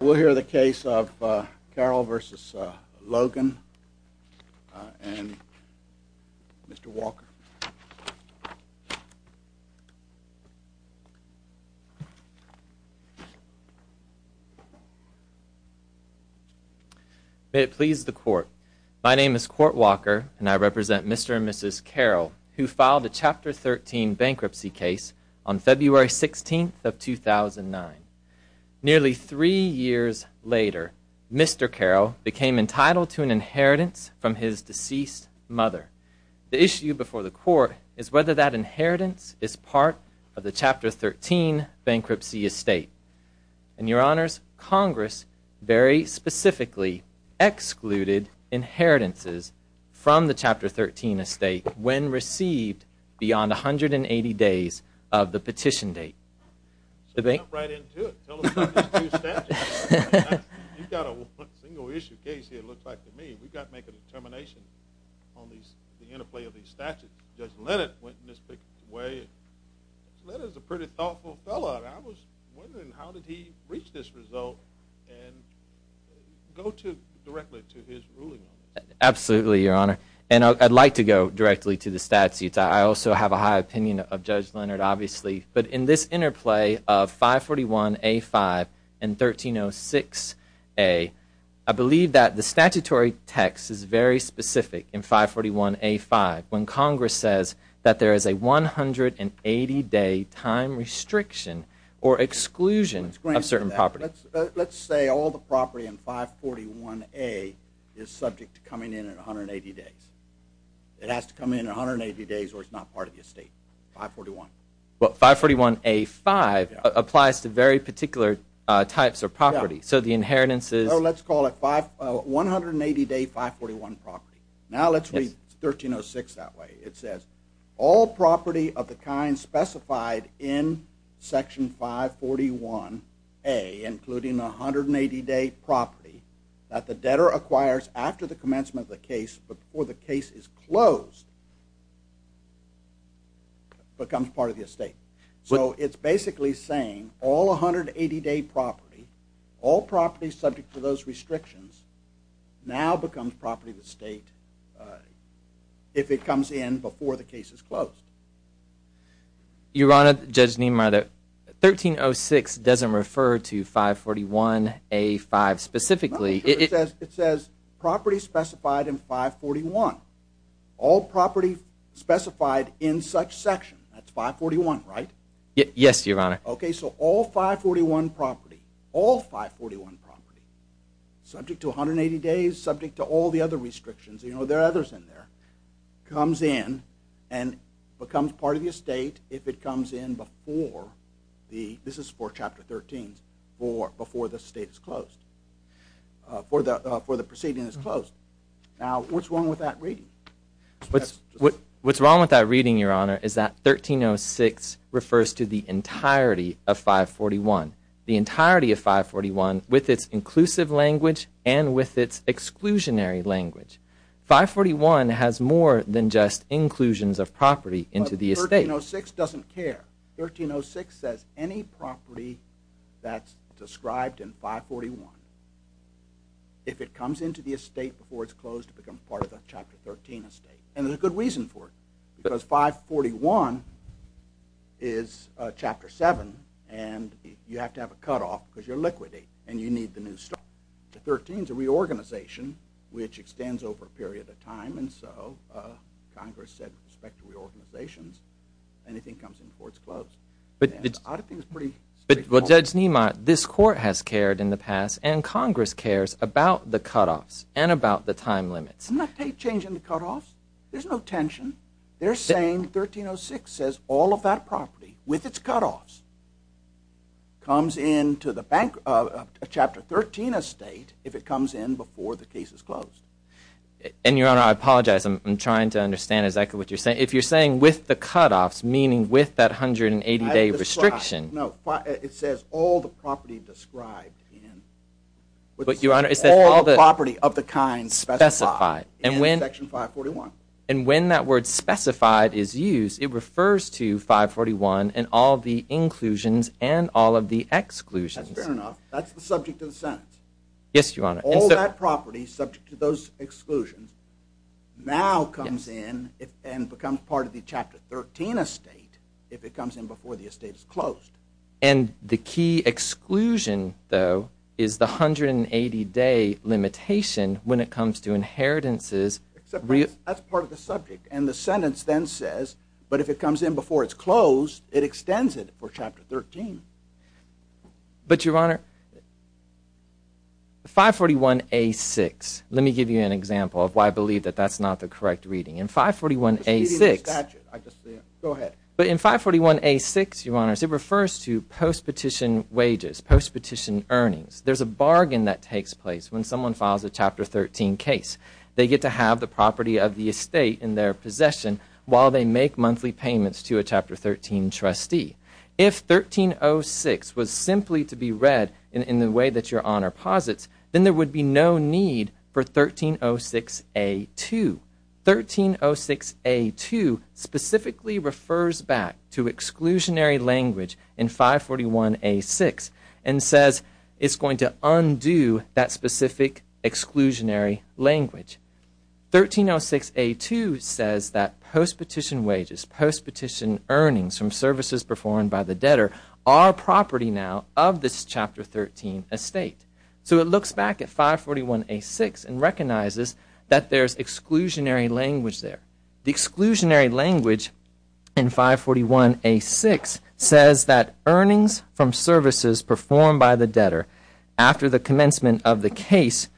We'll hear the case of Carroll v. Logan, and Mr. Walker. May it please the court. My name is Court Walker, and I represent Mr. and Mrs. Carroll, who filed a Chapter 13 bankruptcy case on February 16th of 2009. Nearly three years later, Mr. Carroll became entitled to an inheritance from his deceased mother. The issue before the court is whether that inheritance is part of the Chapter 13 bankruptcy estate. And, Your Honors, Congress very specifically excluded inheritances from the Chapter 13 estate when received beyond 180 days of the petition date. So jump right into it. Tell us about these two statutes. You've got a single-issue case here, it looks like to me. We've got to make a determination on the interplay of these statutes. Judge Leonard went in this big way. Judge Leonard is a pretty thoughtful fellow, and I was wondering how did he reach this result and go directly to his ruling? Absolutely, Your Honor. And I'd like to go directly to the statutes. I also have a high opinion of Judge Leonard, obviously. But in this interplay of 541A-5 and 1306A, I believe that the statutory text is very specific in 541A-5 when Congress says that there is a 180-day time restriction or exclusion of certain property. Let's say all the property in 541A is subject to coming in at 180 days. It has to come in at 180 days or it's not part of the estate. 541. But 541A-5 applies to very particular types of property. So the inheritance is... Let's call it 180-day 541 property. Now let's read 1306 that way. It says, all property of the kind specified in Section 541A, including the 180-day property that the debtor acquires after the commencement of the case before the case is closed, becomes part of the estate. So it's basically saying all 180-day property, all property subject to those restrictions, now becomes property of the state if it comes in before the case is closed. Your Honor, Judge Niemeyer, 1306 doesn't refer to 541A-5 specifically. It says property specified in 541. All property specified in such section. That's 541, right? Yes, Your Honor. Okay, so all 541 property, all 541 property, subject to 180 days, subject to all the other restrictions, you know, there are others in there, comes in and becomes part of the estate if it comes in before the... before the proceeding is closed. Now what's wrong with that reading? What's wrong with that reading, Your Honor, is that 1306 refers to the entirety of 541. The entirety of 541 with its inclusive language and with its exclusionary language. 541 has more than just inclusions of property into the estate. 1306 doesn't care. 1306 says any property that's described in 541, if it comes into the estate before it's closed, it becomes part of the Chapter 13 estate. And there's a good reason for it because 541 is Chapter 7 and you have to have a cutoff because you're liquidating and you need the new stuff. The 13 is a reorganization which extends over a period of time and so Congress said with respect to reorganizations, anything comes in before it's closed. But Judge Niemeyer, this Court has cared in the past and Congress cares about the cutoffs and about the time limits. I'm not changing the cutoffs. There's no tension. They're saying 1306 says all of that property with its cutoffs comes into the Chapter 13 estate if it comes in before the case is closed. And Your Honor, I apologize. I'm trying to understand exactly what you're saying. If you're saying with the cutoffs, meaning with that 180-day restriction. No, it says all the property described in. But Your Honor, it says all the property of the kind specified in Section 541. And when that word specified is used, it refers to 541 and all the inclusions and all of the exclusions. That's fair enough. That's the subject of the sentence. Yes, Your Honor. All that property subject to those exclusions now comes in and becomes part of the Chapter 13 estate if it comes in before the estate is closed. And the key exclusion, though, is the 180-day limitation when it comes to inheritances. That's part of the subject and the sentence then says, but if it comes in before it's closed, it extends it for Chapter 13. But Your Honor, 541A6, let me give you an example of why I believe that that's not the correct reading. In 541A6, but in 541A6, Your Honor, it refers to post-petition wages, post-petition earnings. There's a bargain that takes place when someone files a Chapter 13 case. They get to have the property of the estate in their possession while they make monthly payments to a Chapter 13 trustee. If 1306 was simply to be read in the way that Your Honor posits, then there would be no need for 1306A2. 1306A2 specifically refers back to exclusionary language in 541A6 and says it's going to undo that specific exclusionary language. 1306A2 says that post-petition wages, post-petition earnings from services performed by the debtor are property now of this Chapter 13 estate. So it looks back at 541A6 and recognizes that there's exclusionary language there. The exclusionary language in 541A6 says that earnings from services performed by the debtor after the commencement of the case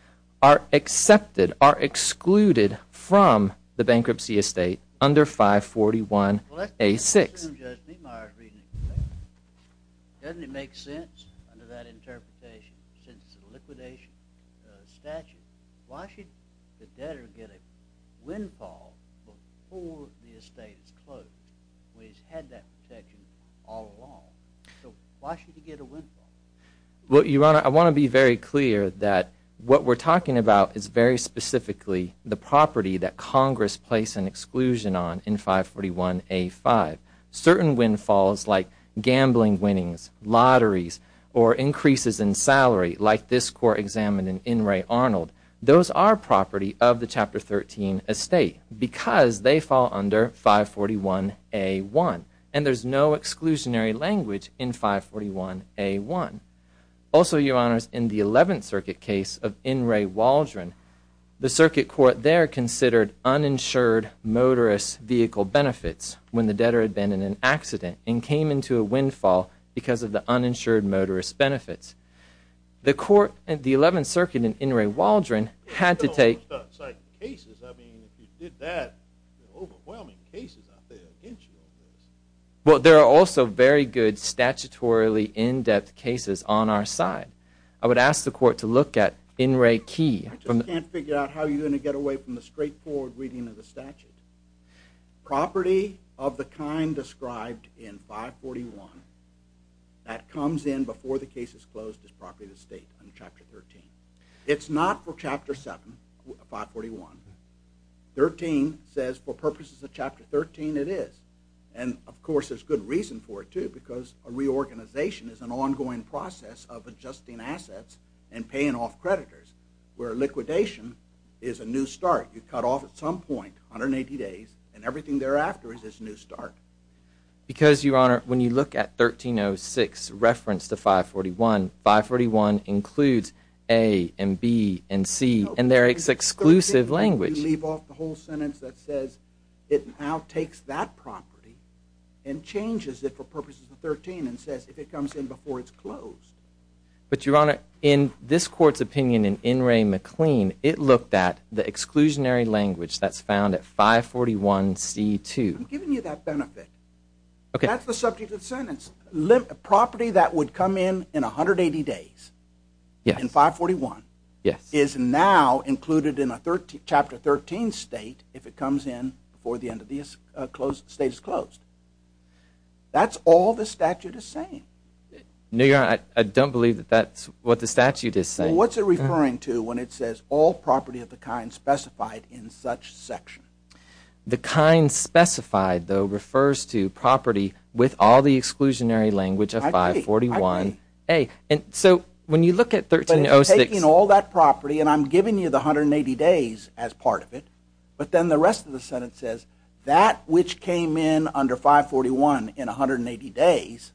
are accepted, are excluded from the bankruptcy estate under 541A6. Well, let's assume, Judge Meemeyer's reasoning is correct. Doesn't it make sense under that interpretation since it's a liquidation statute? Why should the debtor get a windfall before the estate is closed when he's had that protection all along? So why should he get a windfall? Well, Your Honor, I want to be very clear that what we're talking about is very specifically the property that Congress placed an exclusion on in 541A5. Certain windfalls like gambling winnings, lotteries, or increases in salary like this Court examined in In re Arnold, those are property of the Chapter 13 estate because they fall under 541A1. And there's no exclusionary language in 541A1. Also, Your Honor, in the 11th Circuit case of In re Waldron, the Circuit Court there considered uninsured motorist vehicle benefits when the debtor had been in an accident and came into a windfall because of the uninsured motorist benefits. The 11th Circuit in In re Waldron had to take... I mean, if you did that, overwhelming cases out there, didn't you? Well, there are also very good statutorily in-depth cases on our side. I would ask the Court to look at In re Key. I just can't figure out how you're going to get away from the straightforward reading of the statute. Property of the kind described in 541 that comes in before the case is closed is property of the estate under Chapter 13. It's not for Chapter 7, 541. 13 says for purposes of Chapter 13 it is. And, of course, there's good reason for it too because a reorganization is an ongoing process of adjusting assets and paying off creditors where liquidation is a new start. You cut off at some point 180 days and everything thereafter is this new start. Because, Your Honor, when you look at 1306 reference to 541, 541 includes A and B and C in their exclusive language. You leave off the whole sentence that says it now takes that property and changes it for purposes of 13 and says if it comes in before it's closed. But, Your Honor, in this Court's opinion in In re McLean, it looked at the exclusionary language that's found at 541C2. I'm giving you that benefit. That's the subject of the sentence. The property that would come in in 180 days in 541 is now included in a Chapter 13 state if it comes in before the end of the state is closed. That's all the statute is saying. No, Your Honor, I don't believe that's what the statute is saying. What's it referring to when it says all property of the kind specified in such section? The kind specified, though, refers to property with all the exclusionary language of 541A. So when you look at 1306... But it's taking all that property and I'm giving you the 180 days as part of it, but then the rest of the sentence says that which came in under 541 in 180 days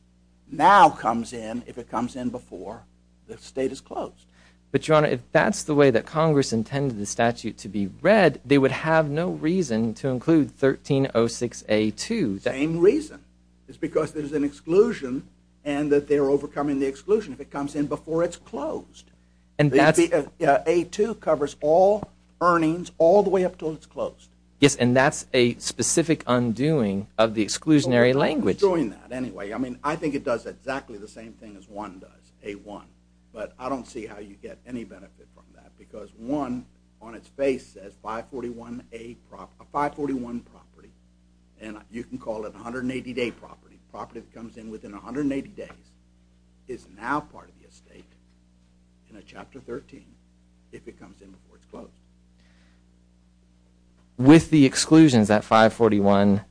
now comes in if it comes in before the state is closed. But, Your Honor, if that's the way that Congress intended the statute to be read, they would have no reason to include 1306A2. Same reason. It's because there's an exclusion and that they're overcoming the exclusion if it comes in before it's closed. And that's... A2 covers all earnings all the way up until it's closed. Yes, and that's a specific undoing of the exclusionary language. Well, who's doing that anyway? I mean, I think it does exactly the same thing as 1 does, A1. But I don't see how you get any benefit from that because 1 on its face says 541A, a 541 property, and you can call it a 180-day property, a property that comes in within 180 days, is now part of the estate in Chapter 13 if it comes in before it's closed. With the exclusions that 541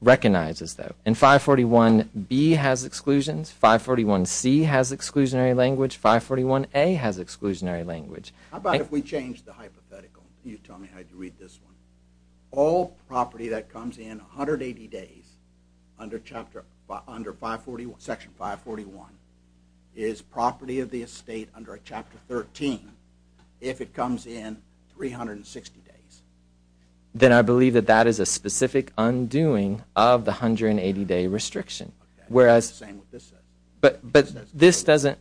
recognizes, though, and 541B has exclusions, 541C has exclusionary language, 541A has exclusionary language. How about if we change the hypothetical? You tell me how you read this one. All property that comes in 180 days under Section 541 is property of the estate under Chapter 13 if it comes in 360 days. Then I believe that that is a specific undoing of the 180-day restriction. Okay, that's the same as what this says. But this doesn't,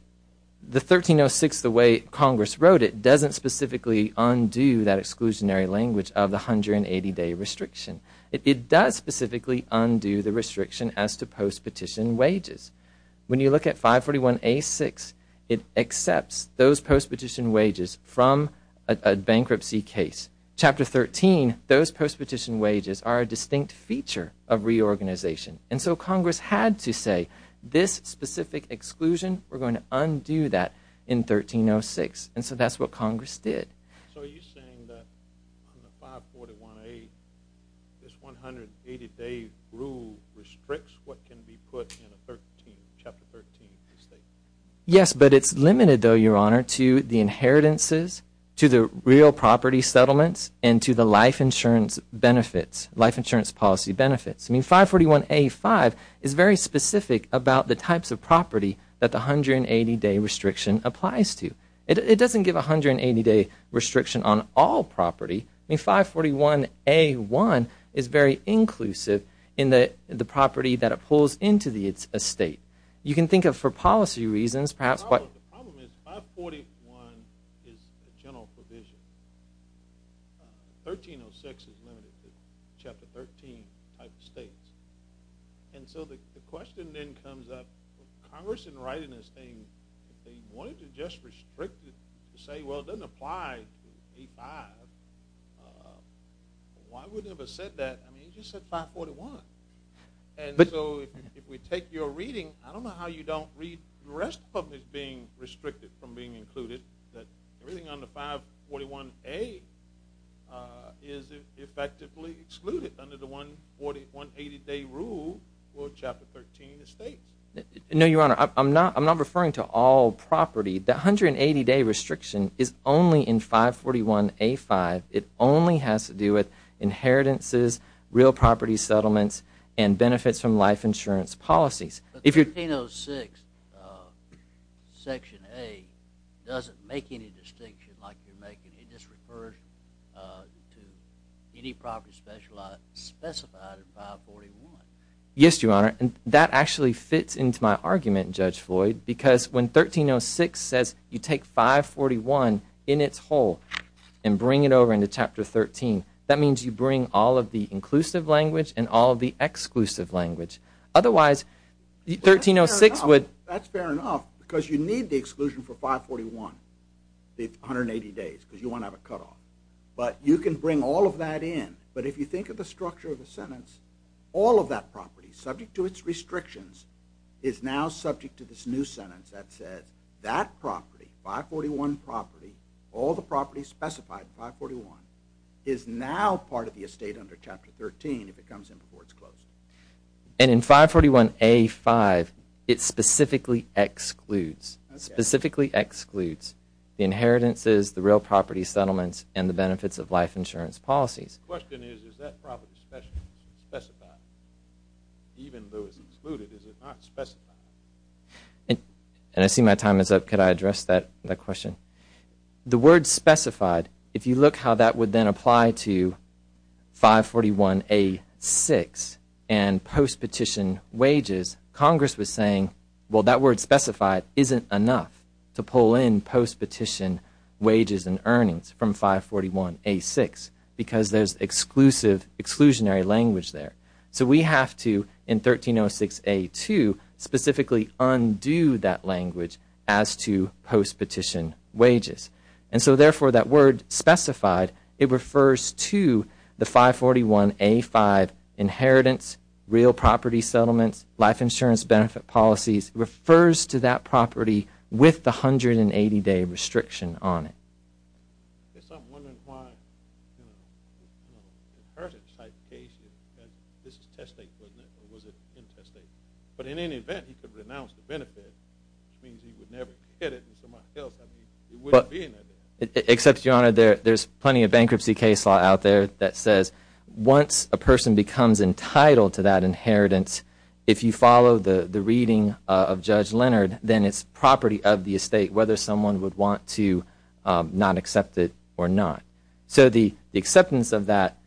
the 1306, the way Congress wrote it, doesn't specifically undo that exclusionary language of the 180-day restriction. It does specifically undo the restriction as to post-petition wages. When you look at 541A6, it accepts those post-petition wages from a bankruptcy case. Chapter 13, those post-petition wages are a distinct feature of reorganization. And so Congress had to say, this specific exclusion, we're going to undo that in 1306. And so that's what Congress did. So are you saying that on the 541A, this 180-day rule restricts what can be put in Chapter 13 of the estate? Yes, but it's limited, though, Your Honor, to the inheritances, to the real property settlements, and to the life insurance benefits, life insurance policy benefits. I mean, 541A5 is very specific about the types of property that the 180-day restriction applies to. It doesn't give a 180-day restriction on all property. I mean, 541A1 is very inclusive in the property that it pulls into the estate. You can think of, for policy reasons, perhaps what— The problem is 541 is a general provision. 1306 is limited to Chapter 13 type of states. And so the question then comes up, Congress, in writing this thing, they wanted to just restrict it to say, well, it doesn't apply to A5. Why would it have said that? I mean, it just said 541. And so if we take your reading, I don't know how you don't read the rest of what is being restricted from being included, that everything under 541A is effectively excluded under the 180-day rule for Chapter 13 estates. No, Your Honor, I'm not referring to all property. The 180-day restriction is only in 541A5. It only has to do with inheritances, real property settlements, and benefits from life insurance policies. But 1306 Section A doesn't make any distinction like you're making. It just refers to any property specified in 541. Yes, Your Honor, and that actually fits into my argument, Judge Floyd, because when 1306 says you take 541 in its whole and bring it over into Chapter 13, that means you bring all of the inclusive language and all of the exclusive language. Otherwise, 1306 would... That's fair enough, because you need the exclusion for 541, the 180 days, because you want to have a cutoff. But you can bring all of that in. But if you think of the structure of the sentence, all of that property, subject to its restrictions, is now subject to this new sentence that says that property, 541 property, all the property specified in 541, is now part of the estate under Chapter 13 if it comes in before it's closed. And in 541A-5, it specifically excludes, specifically excludes the inheritances, the real property settlements, and the benefits of life insurance policies. The question is, is that property specified? Even though it's excluded, is it not specified? And I see my time is up. Could I address that question? The word specified, if you look how that would then apply to 541A-6 and post-petition wages, Congress was saying, well, that word specified isn't enough to pull in post-petition wages and earnings from 541A-6 because there's exclusive, exclusionary language there. So we have to, in 1306A-2, specifically undo that language as to post-petition wages. And so, therefore, that word specified, it refers to the 541A-5 inheritance, real property settlements, life insurance benefit policies, refers to that property with the 180-day restriction on it. I guess I'm wondering why, you know, inheritance type cases, and this is test state, wasn't it? Or was it in-test state? But in any event, he could renounce the benefit, which means he would never get it from somebody else. I mean, it wouldn't be in there. Except, Your Honor, there's plenty of bankruptcy case law out there that says once a person becomes entitled to that inheritance, if you follow the reading of Judge Leonard, then it's property of the estate, whether someone would want to not accept it or not. So the acceptance of that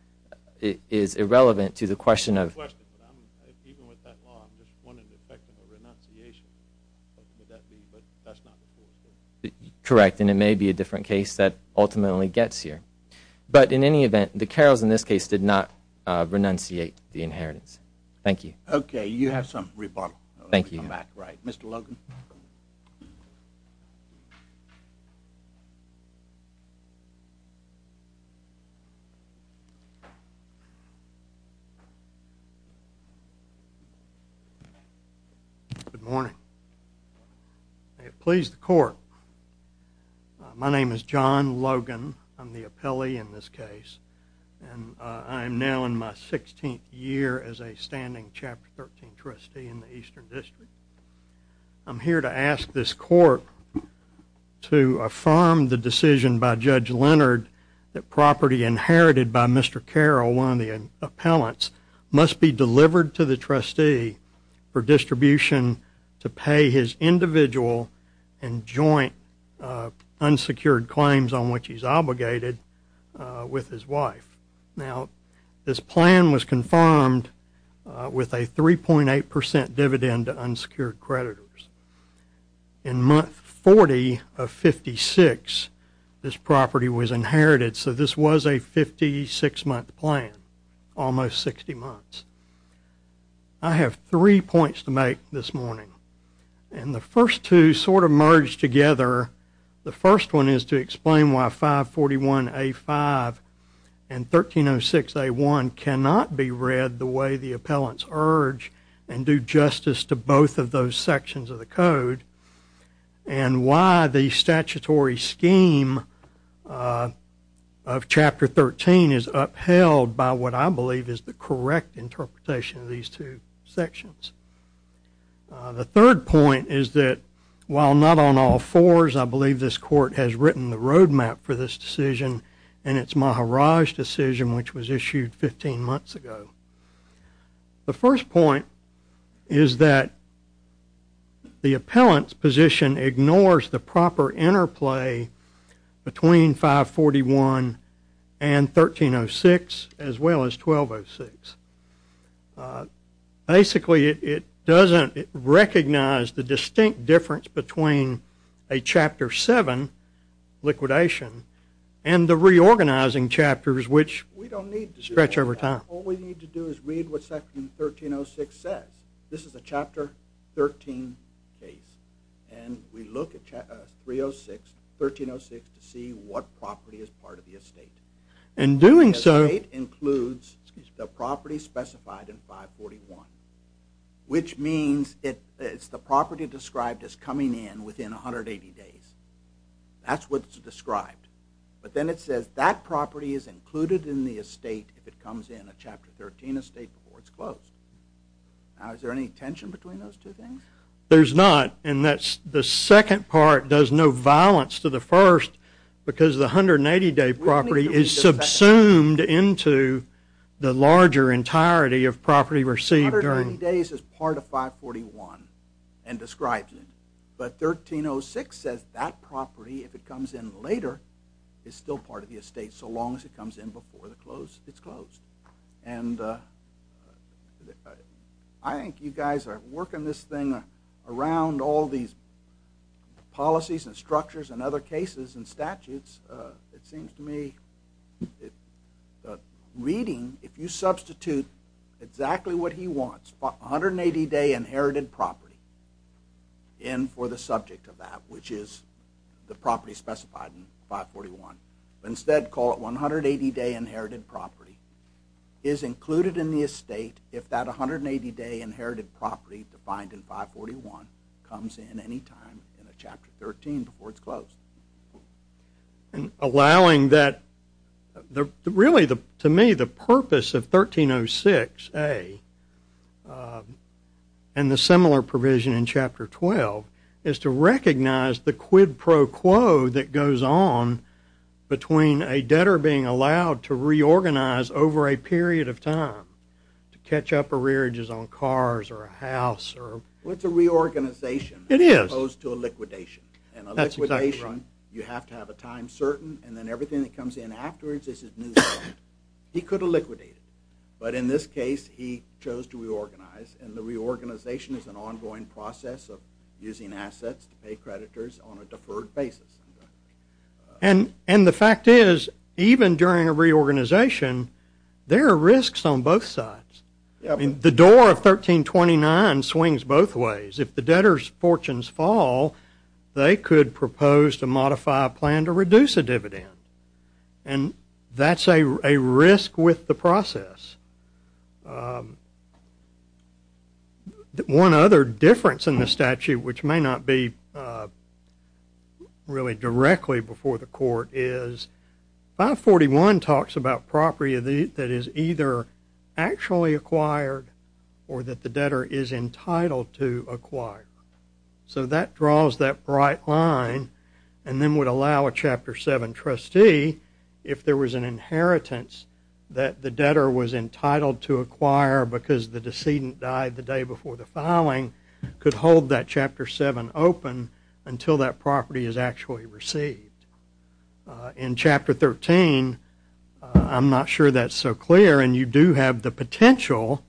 is irrelevant to the question of... I have a question. Even with that law, I'm just wondering the effect of a renunciation. What would that be? But that's not the full story. Correct, and it may be a different case that ultimately gets here. But in any event, the Carrolls in this case did not renunciate the inheritance. Thank you. Okay, you have some rebuttal. Thank you. We'll come back. Mr. Logan. Good morning. May it please the Court, my name is John Logan. I'm the appellee in this case. I am now in my 16th year as a standing Chapter 13 trustee in the Eastern District. I'm here to ask this Court to affirm the decision by Judge Leonard that property inherited by Mr. Carroll, one of the appellants, must be delivered to the trustee for distribution to pay his individual and joint unsecured claims on which he's obligated with his wife. Now, this plan was confirmed with a 3.8% dividend to unsecured creditors. In month 40 of 56, this property was inherited, so this was a 56-month plan, almost 60 months. I have three points to make this morning. The first two sort of merge together. The first one is to explain why 541A5 and 1306A1 cannot be read the way the appellants urge and do justice to both of those sections of the Code and why the statutory scheme of Chapter 13 is upheld by what I believe is the correct interpretation of these two sections. The third point is that while not on all fours, I believe this Court has written the roadmap for this decision and its Maharaj decision which was issued 15 months ago. The first point is that the appellant's position ignores the proper interplay between 541 and 1306 as well as 1206. Basically, it doesn't recognize the distinct difference between a Chapter 7 liquidation and the reorganizing chapters which stretch over time. What we need to do is read what Section 1306 says. This is a Chapter 13 case, and we look at 1306 to see what property is part of the estate. The estate includes the property specified in 541, which means it's the property described as coming in within 180 days. That's what's described. But then it says that property is included in the estate if it comes in a Chapter 13 estate before it's closed. Now, is there any tension between those two things? There's not, and the second part does no violence to the first because the 180-day property is subsumed into the larger entirety of property received. 180 days is part of 541 and describes it, but 1306 says that property, if it comes in later, is still part of the estate so long as it comes in before it's closed. And I think you guys are working this thing around all these policies and structures and other cases and statutes. It seems to me that reading, if you substitute exactly what he wants, 180-day inherited property in for the subject of that, which is the property specified in 541, but instead call it 180-day inherited property, is included in the estate if that 180-day inherited property defined in 541 comes in any time in a Chapter 13 before it's closed. And allowing that, really, to me, the purpose of 1306A and the similar provision in Chapter 12 is to recognize the quid pro quo that goes on between a debtor being allowed to reorganize over a period of time, to catch up arrearages on cars or a house. Well, it's a reorganization. It is. As opposed to a liquidation. And a liquidation, you have to have a time certain, and then everything that comes in afterwards is new. He could have liquidated it. But in this case, he chose to reorganize, and the reorganization is an ongoing process of using assets to pay creditors on a deferred basis. And the fact is, even during a reorganization, there are risks on both sides. I mean, the door of 1329 swings both ways. If the debtor's fortunes fall, they could propose to modify a plan to reduce a dividend. And that's a risk with the process. One other difference in the statute, which may not be really directly before the court, 541 talks about property that is either actually acquired or that the debtor is entitled to acquire. So that draws that bright line and then would allow a Chapter 7 trustee, if there was an inheritance that the debtor was entitled to acquire could hold that Chapter 7 open until that property is actually received. In Chapter 13, I'm not sure that's so clear, and you do have the potential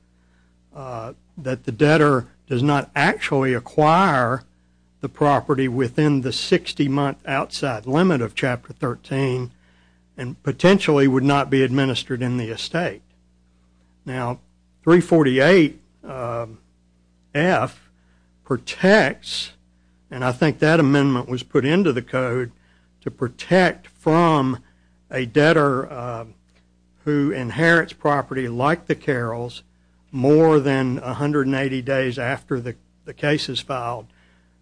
that the debtor does not actually acquire the property within the 60-month outside limit of Chapter 13 and potentially would not be administered in the estate. Now, 348F protects, and I think that amendment was put into the code, to protect from a debtor who inherits property like the Carrolls more than 180 days after the case is filed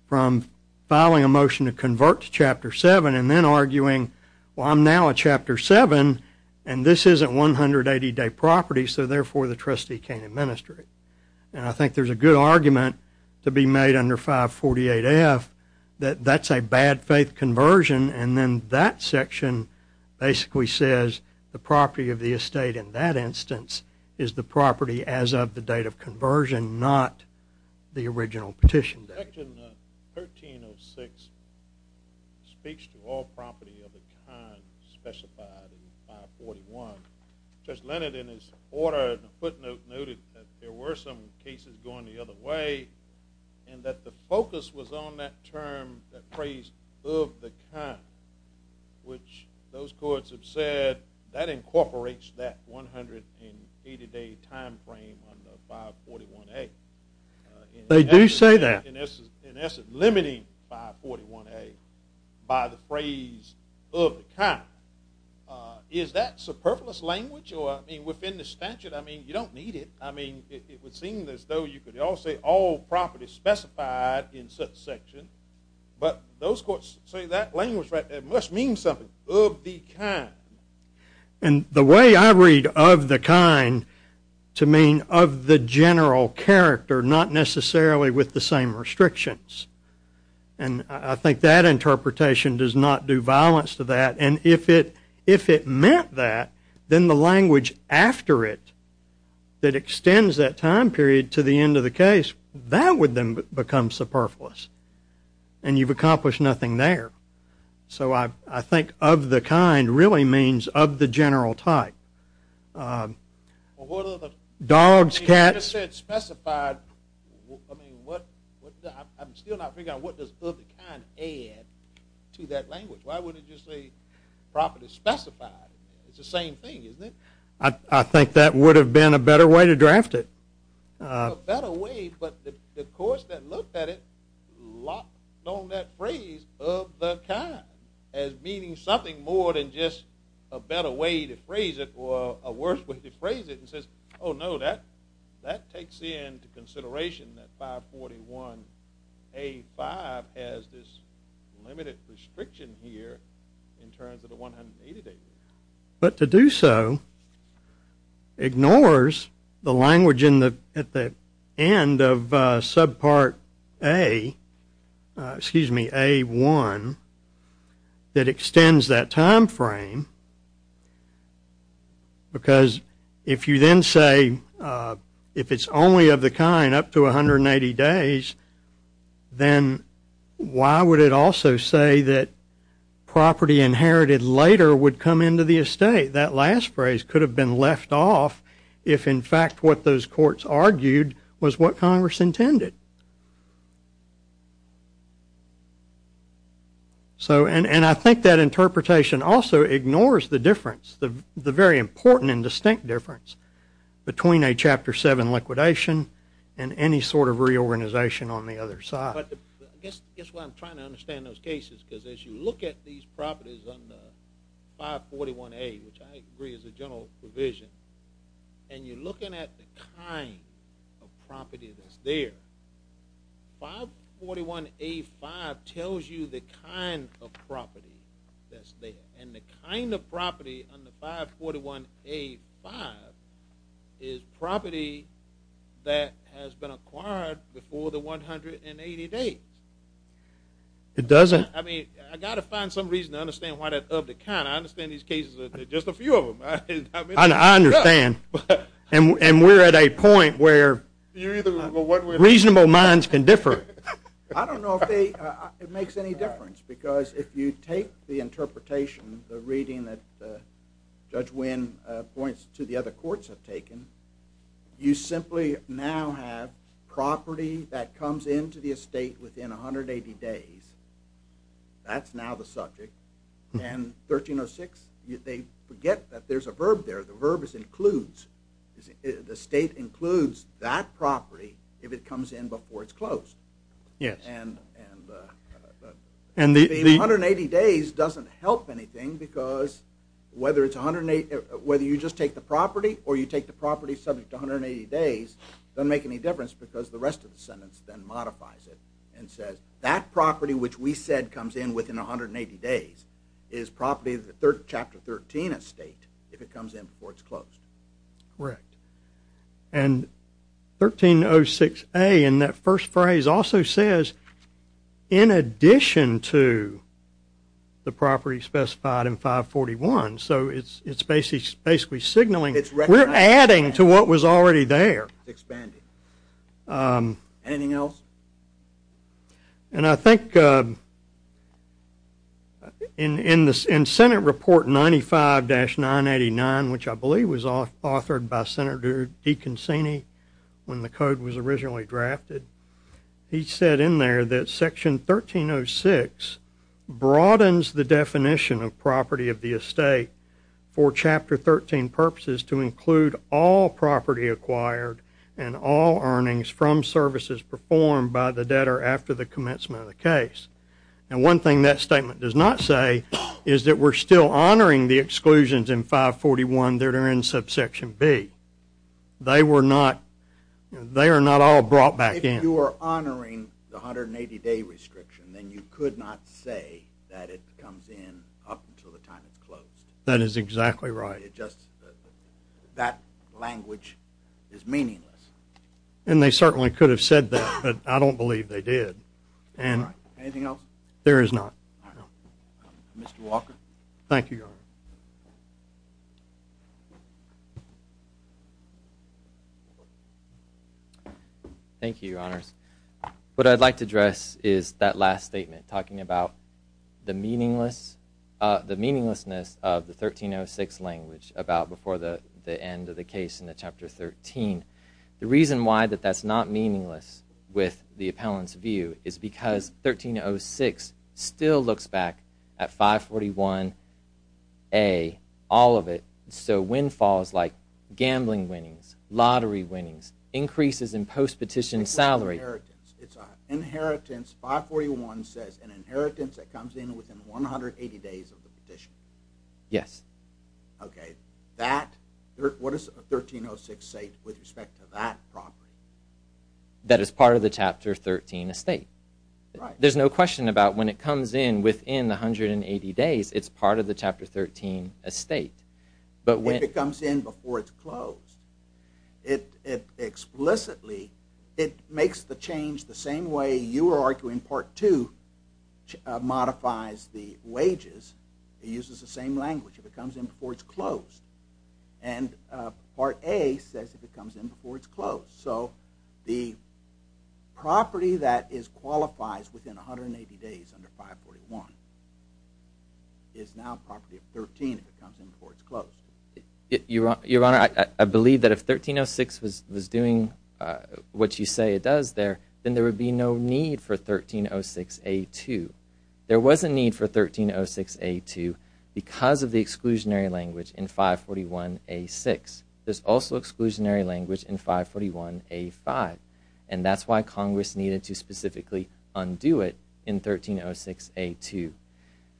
from filing a motion to convert to Chapter 7 and then arguing, well, I'm now at Chapter 7 and this isn't 180-day property, so therefore the trustee can't administer it. And I think there's a good argument to be made under 548F that that's a bad faith conversion and then that section basically says the property of the estate in that instance is the property as of the date of conversion, not the original petition date. Section 1306 speaks to all property of the kind specified in 541. Judge Leonard, in his order, in a footnote, noted that there were some cases going the other way and that the focus was on that term, that phrase, of the kind, which those courts have said that incorporates that 180-day time frame under 541A. They do say that. In essence, limiting 541A by the phrase of the kind. Is that superfluous language? Or, I mean, within the statute, I mean, you don't need it. I mean, it would seem as though you could all say all property specified in such section, but those courts say that language must mean something, of the kind. And the way I read of the kind to mean of the general character, not necessarily with the same restrictions. And I think that interpretation does not do violence to that. And if it meant that, then the language after it that extends that time period to the end of the case, that would then become superfluous. And you've accomplished nothing there. So I think of the kind really means of the general type. Dogs, cats. You said specified. I mean, I'm still not figuring out what does of the kind add to that language. Why would it just say property specified? It's the same thing, isn't it? I think that would have been a better way to draft it. A better way, but the courts that looked at it dropped on that phrase of the kind as meaning something more than just a better way to phrase it or a worse way to phrase it and says, oh, no, that takes into consideration that 541A5 has this limited restriction here in terms of the 180 days. But to do so ignores the language at the end of subpart A, excuse me, A1 that extends that time frame. Because if you then say if it's only of the kind up to 180 days, then why would it also say that property inherited later would come into the estate? That last phrase could have been left off if, in fact, what those courts argued was what Congress intended. And I think that interpretation also ignores the difference, the very important and distinct difference between a Chapter VII liquidation and any sort of reorganization on the other side. I guess why I'm trying to understand those cases is because as you look at these properties under 541A, which I agree is a general provision, and you're looking at the kind of property that's there, 541A5 tells you the kind of property that's there. And the kind of property under 541A5 is property that has been acquired before the 180 days. It doesn't? I mean, I've got to find some reason to understand why that's of the kind. I understand these cases are just a few of them. I understand. And we're at a point where reasonable minds can differ. I don't know if it makes any difference because if you take the interpretation, the reading that Judge Wynn points to the other courts have taken, you simply now have property that comes into the estate within 180 days. That's now the subject. And 1306, they forget that there's a verb there. The verb is includes. The estate includes that property if it comes in before it's closed. Yes. And the 180 days doesn't help anything because whether you just take the property or you take the property subject to 180 days, it doesn't make any difference because the rest of the sentence then modifies it and says that property which we said comes in within 180 days is property of the Chapter 13 estate if it comes in before it's closed. Correct. And 1306A in that first phrase also says in addition to the property specified in 541, so it's basically signaling we're adding to what was already there. Expanded. Anything else? And I think in Senate Report 95-989, which I believe was authored by Senator DeConcini when the code was originally drafted, he said in there that Section 1306 broadens the definition of property of the estate for Chapter 13 purposes to include all property acquired and all earnings from services performed by the debtor after the commencement of the case. And one thing that statement does not say is that we're still honoring the exclusions in 541 that are in subsection B. They are not all brought back in. If you are honoring the 180-day restriction, then you could not say that it comes in up until the time it's closed. That is exactly right. That language is meaningless. And they certainly could have said that, but I don't believe they did. Anything else? There is not. Mr. Walker. Thank you, Your Honor. Thank you, Your Honors. What I'd like to address is that last statement talking about the meaninglessness of the 1306 language about before the end of the case in Chapter 13. The reason why that's not meaningless with the appellant's view is because 1306 still looks back at 541A, all of it, so windfalls like gambling winnings, lottery winnings, increases in post-petition salary. Inheritance. 541 says an inheritance that comes in within 180 days of the petition. Yes. What does 1306 say with respect to that property? That it's part of the Chapter 13 estate. There's no question about when it comes in within the 180 days, it's part of the Chapter 13 estate. If it comes in before it's closed, it explicitly makes the change the same way you are arguing Part 2 modifies the wages. It uses the same language. If it comes in before it's closed. And Part A says if it comes in before it's closed. So the property that qualifies within 180 days under 541 Your Honor, I believe that if 1306 was doing what you say it does there, then there would be no need for 1306A2. There was a need for 1306A2 because of the exclusionary language in 541A6. There's also exclusionary language in 541A5, and that's why Congress needed to specifically undo it in 1306A2.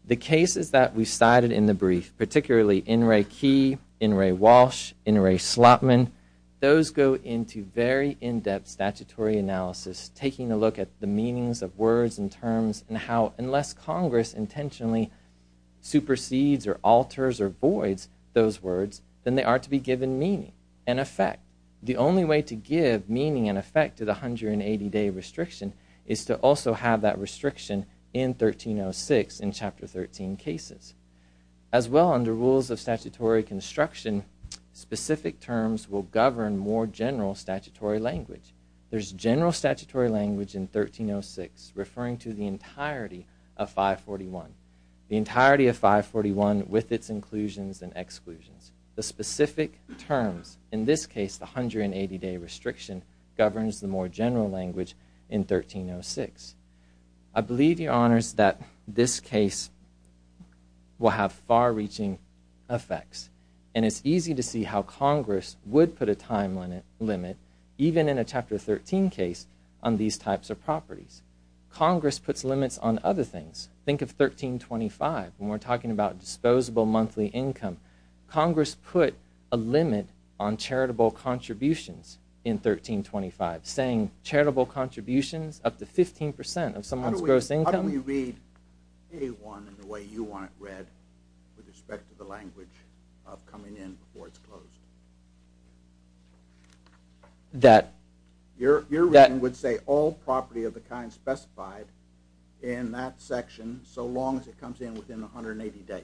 The cases that we cited in the brief, particularly N. Ray Key, N. Ray Walsh, N. Ray Slotman, those go into very in-depth statutory analysis, taking a look at the meanings of words and terms and how unless Congress intentionally supersedes or alters or voids those words, then they are to be given meaning and effect. The only way to give meaning and effect to the 180 day restriction is to also have that restriction in 1306 in Chapter 13 cases. As well, under rules of statutory construction, specific terms will govern more general statutory language. There's general statutory language in 1306 referring to the entirety of 541. The entirety of 541 with its inclusions and exclusions. The specific terms, in this case the 180 day restriction, governs the more general language in 1306. I believe, Your Honors, that this case will have far-reaching effects, and it's easy to see how Congress would put a time limit, even in a Chapter 13 case, on these types of properties. Congress puts limits on other things. Think of 1325 when we're talking about disposable monthly income. Congress put a limit on charitable contributions in 1325, saying charitable contributions up to 15% of someone's gross income. How do we read A1 in the way you want it read with respect to the language of coming in before it's closed? Your reading would say all property of the kind specified in that section so long as it comes in within 180 days.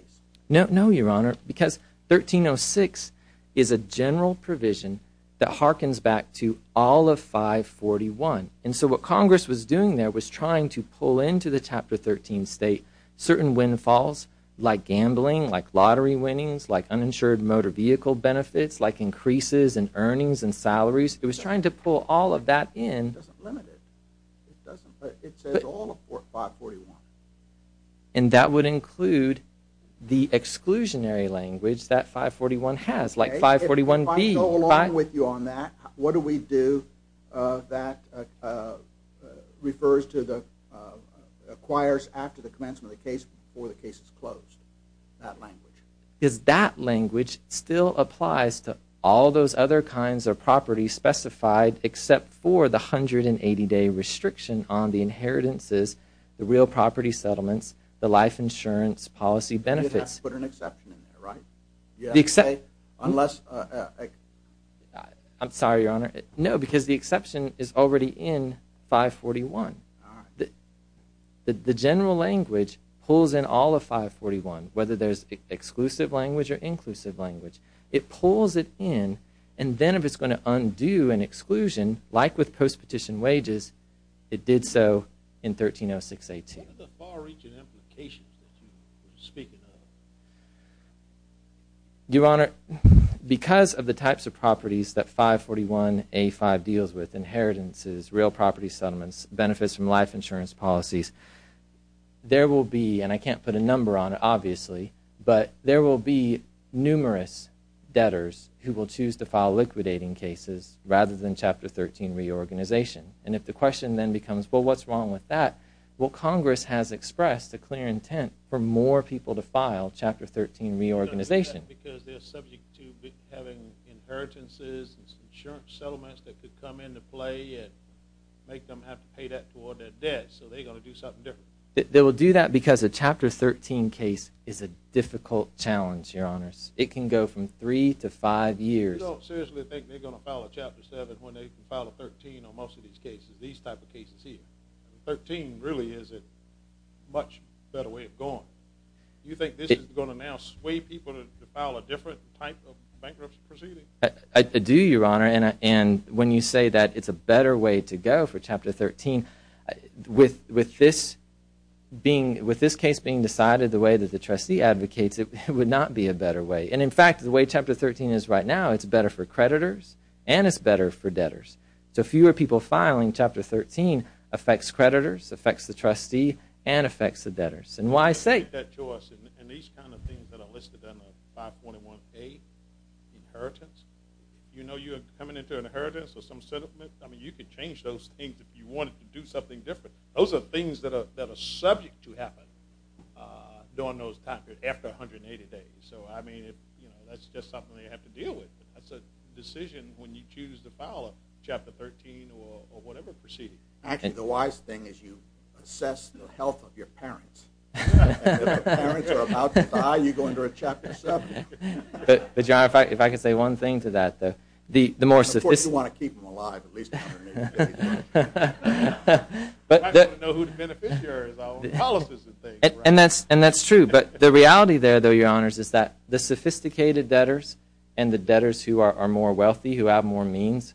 No, Your Honor, because 1306 is a general provision that harkens back to all of 541. And so what Congress was doing there was trying to pull into the Chapter 13 state certain windfalls like gambling, like lottery winnings, like uninsured motor vehicle benefits, like increases in earnings and salaries. It was trying to pull all of that in. It doesn't limit it. It says all of 541. And that would include the exclusionary language that 541 has, like 541B. If I go along with you on that, what do we do that refers to the acquires after the commencement of the case before the case is closed, that language? Because that language still applies to all those other kinds of properties specified except for the 180-day restriction on the inheritances, the real property settlements, the life insurance policy benefits. But you have to put an exception in there, right? I'm sorry, Your Honor. No, because the exception is already in 541. The general language pulls in all of 541, whether there's exclusive language or inclusive language. It pulls it in, and then if it's going to undo an exclusion, like with post-petition wages, it did so in 1306A2. What are the far-reaching implications that you're speaking of? Your Honor, because of the types of properties that 541A5 deals with, inheritances, real property settlements, benefits from life insurance policies, there will be, and I can't put a number on it, obviously, but there will be numerous debtors who will choose to file liquidating cases rather than Chapter 13 reorganization. And if the question then becomes, well, what's wrong with that? Well, Congress has expressed a clear intent for more people to file Chapter 13 reorganization. They will do that because a Chapter 13 case is a difficult challenge, Your Honor. It can go from three to five years. They can file a 13 on most of these cases, these type of cases here. A 13 really is a much better way of going. Do you think this is going to now sway people to file a different type of bankruptcy proceeding? I do, Your Honor, and when you say that it's a better way to go for Chapter 13, with this case being decided the way that the trustee advocates, it would not be a better way. And in fact, the way Chapter 13 is right now, it's better for creditors and it's better for debtors. So fewer people filing Chapter 13 affects creditors, affects the trustee, and affects the debtors. And why say? And these kind of things that are listed under 5.1a, inheritance, you know you're coming into an inheritance or some settlement? I mean, you could change those things if you wanted to do something different. Those are things that are subject to happen during those times, after 180 days. So, I mean, that's just something they have to deal with. That's a decision when you choose to file a Chapter 13 or whatever proceeding. Actually, the wise thing is you assess the health of your parents. If your parents are about to die, you go into a Chapter 7. But, Your Honor, if I could say one thing to that. Of course, you want to keep them alive at least 180 days. I just want to know who the beneficiaries are. All of this is a thing. And that's true, but the reality there, though, Your Honors, is that the sophisticated debtors and the debtors who are more wealthy, who have more means,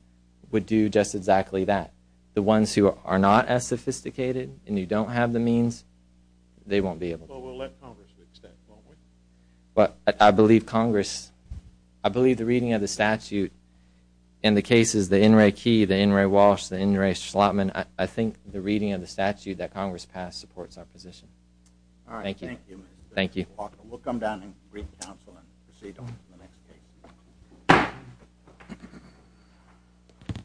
would do just exactly that. The ones who are not as sophisticated and you don't have the means, they won't be able to. Well, we'll let Congress fix that, won't we? I believe Congress, I believe the reading of the statute in the cases, the N. Ray Key, the N. Ray Walsh, the N. Ray Schlotman, I think the reading of the statute that Congress passed supports our position. All right, thank you. Thank you. We'll come down and brief counsel and proceed on the next case.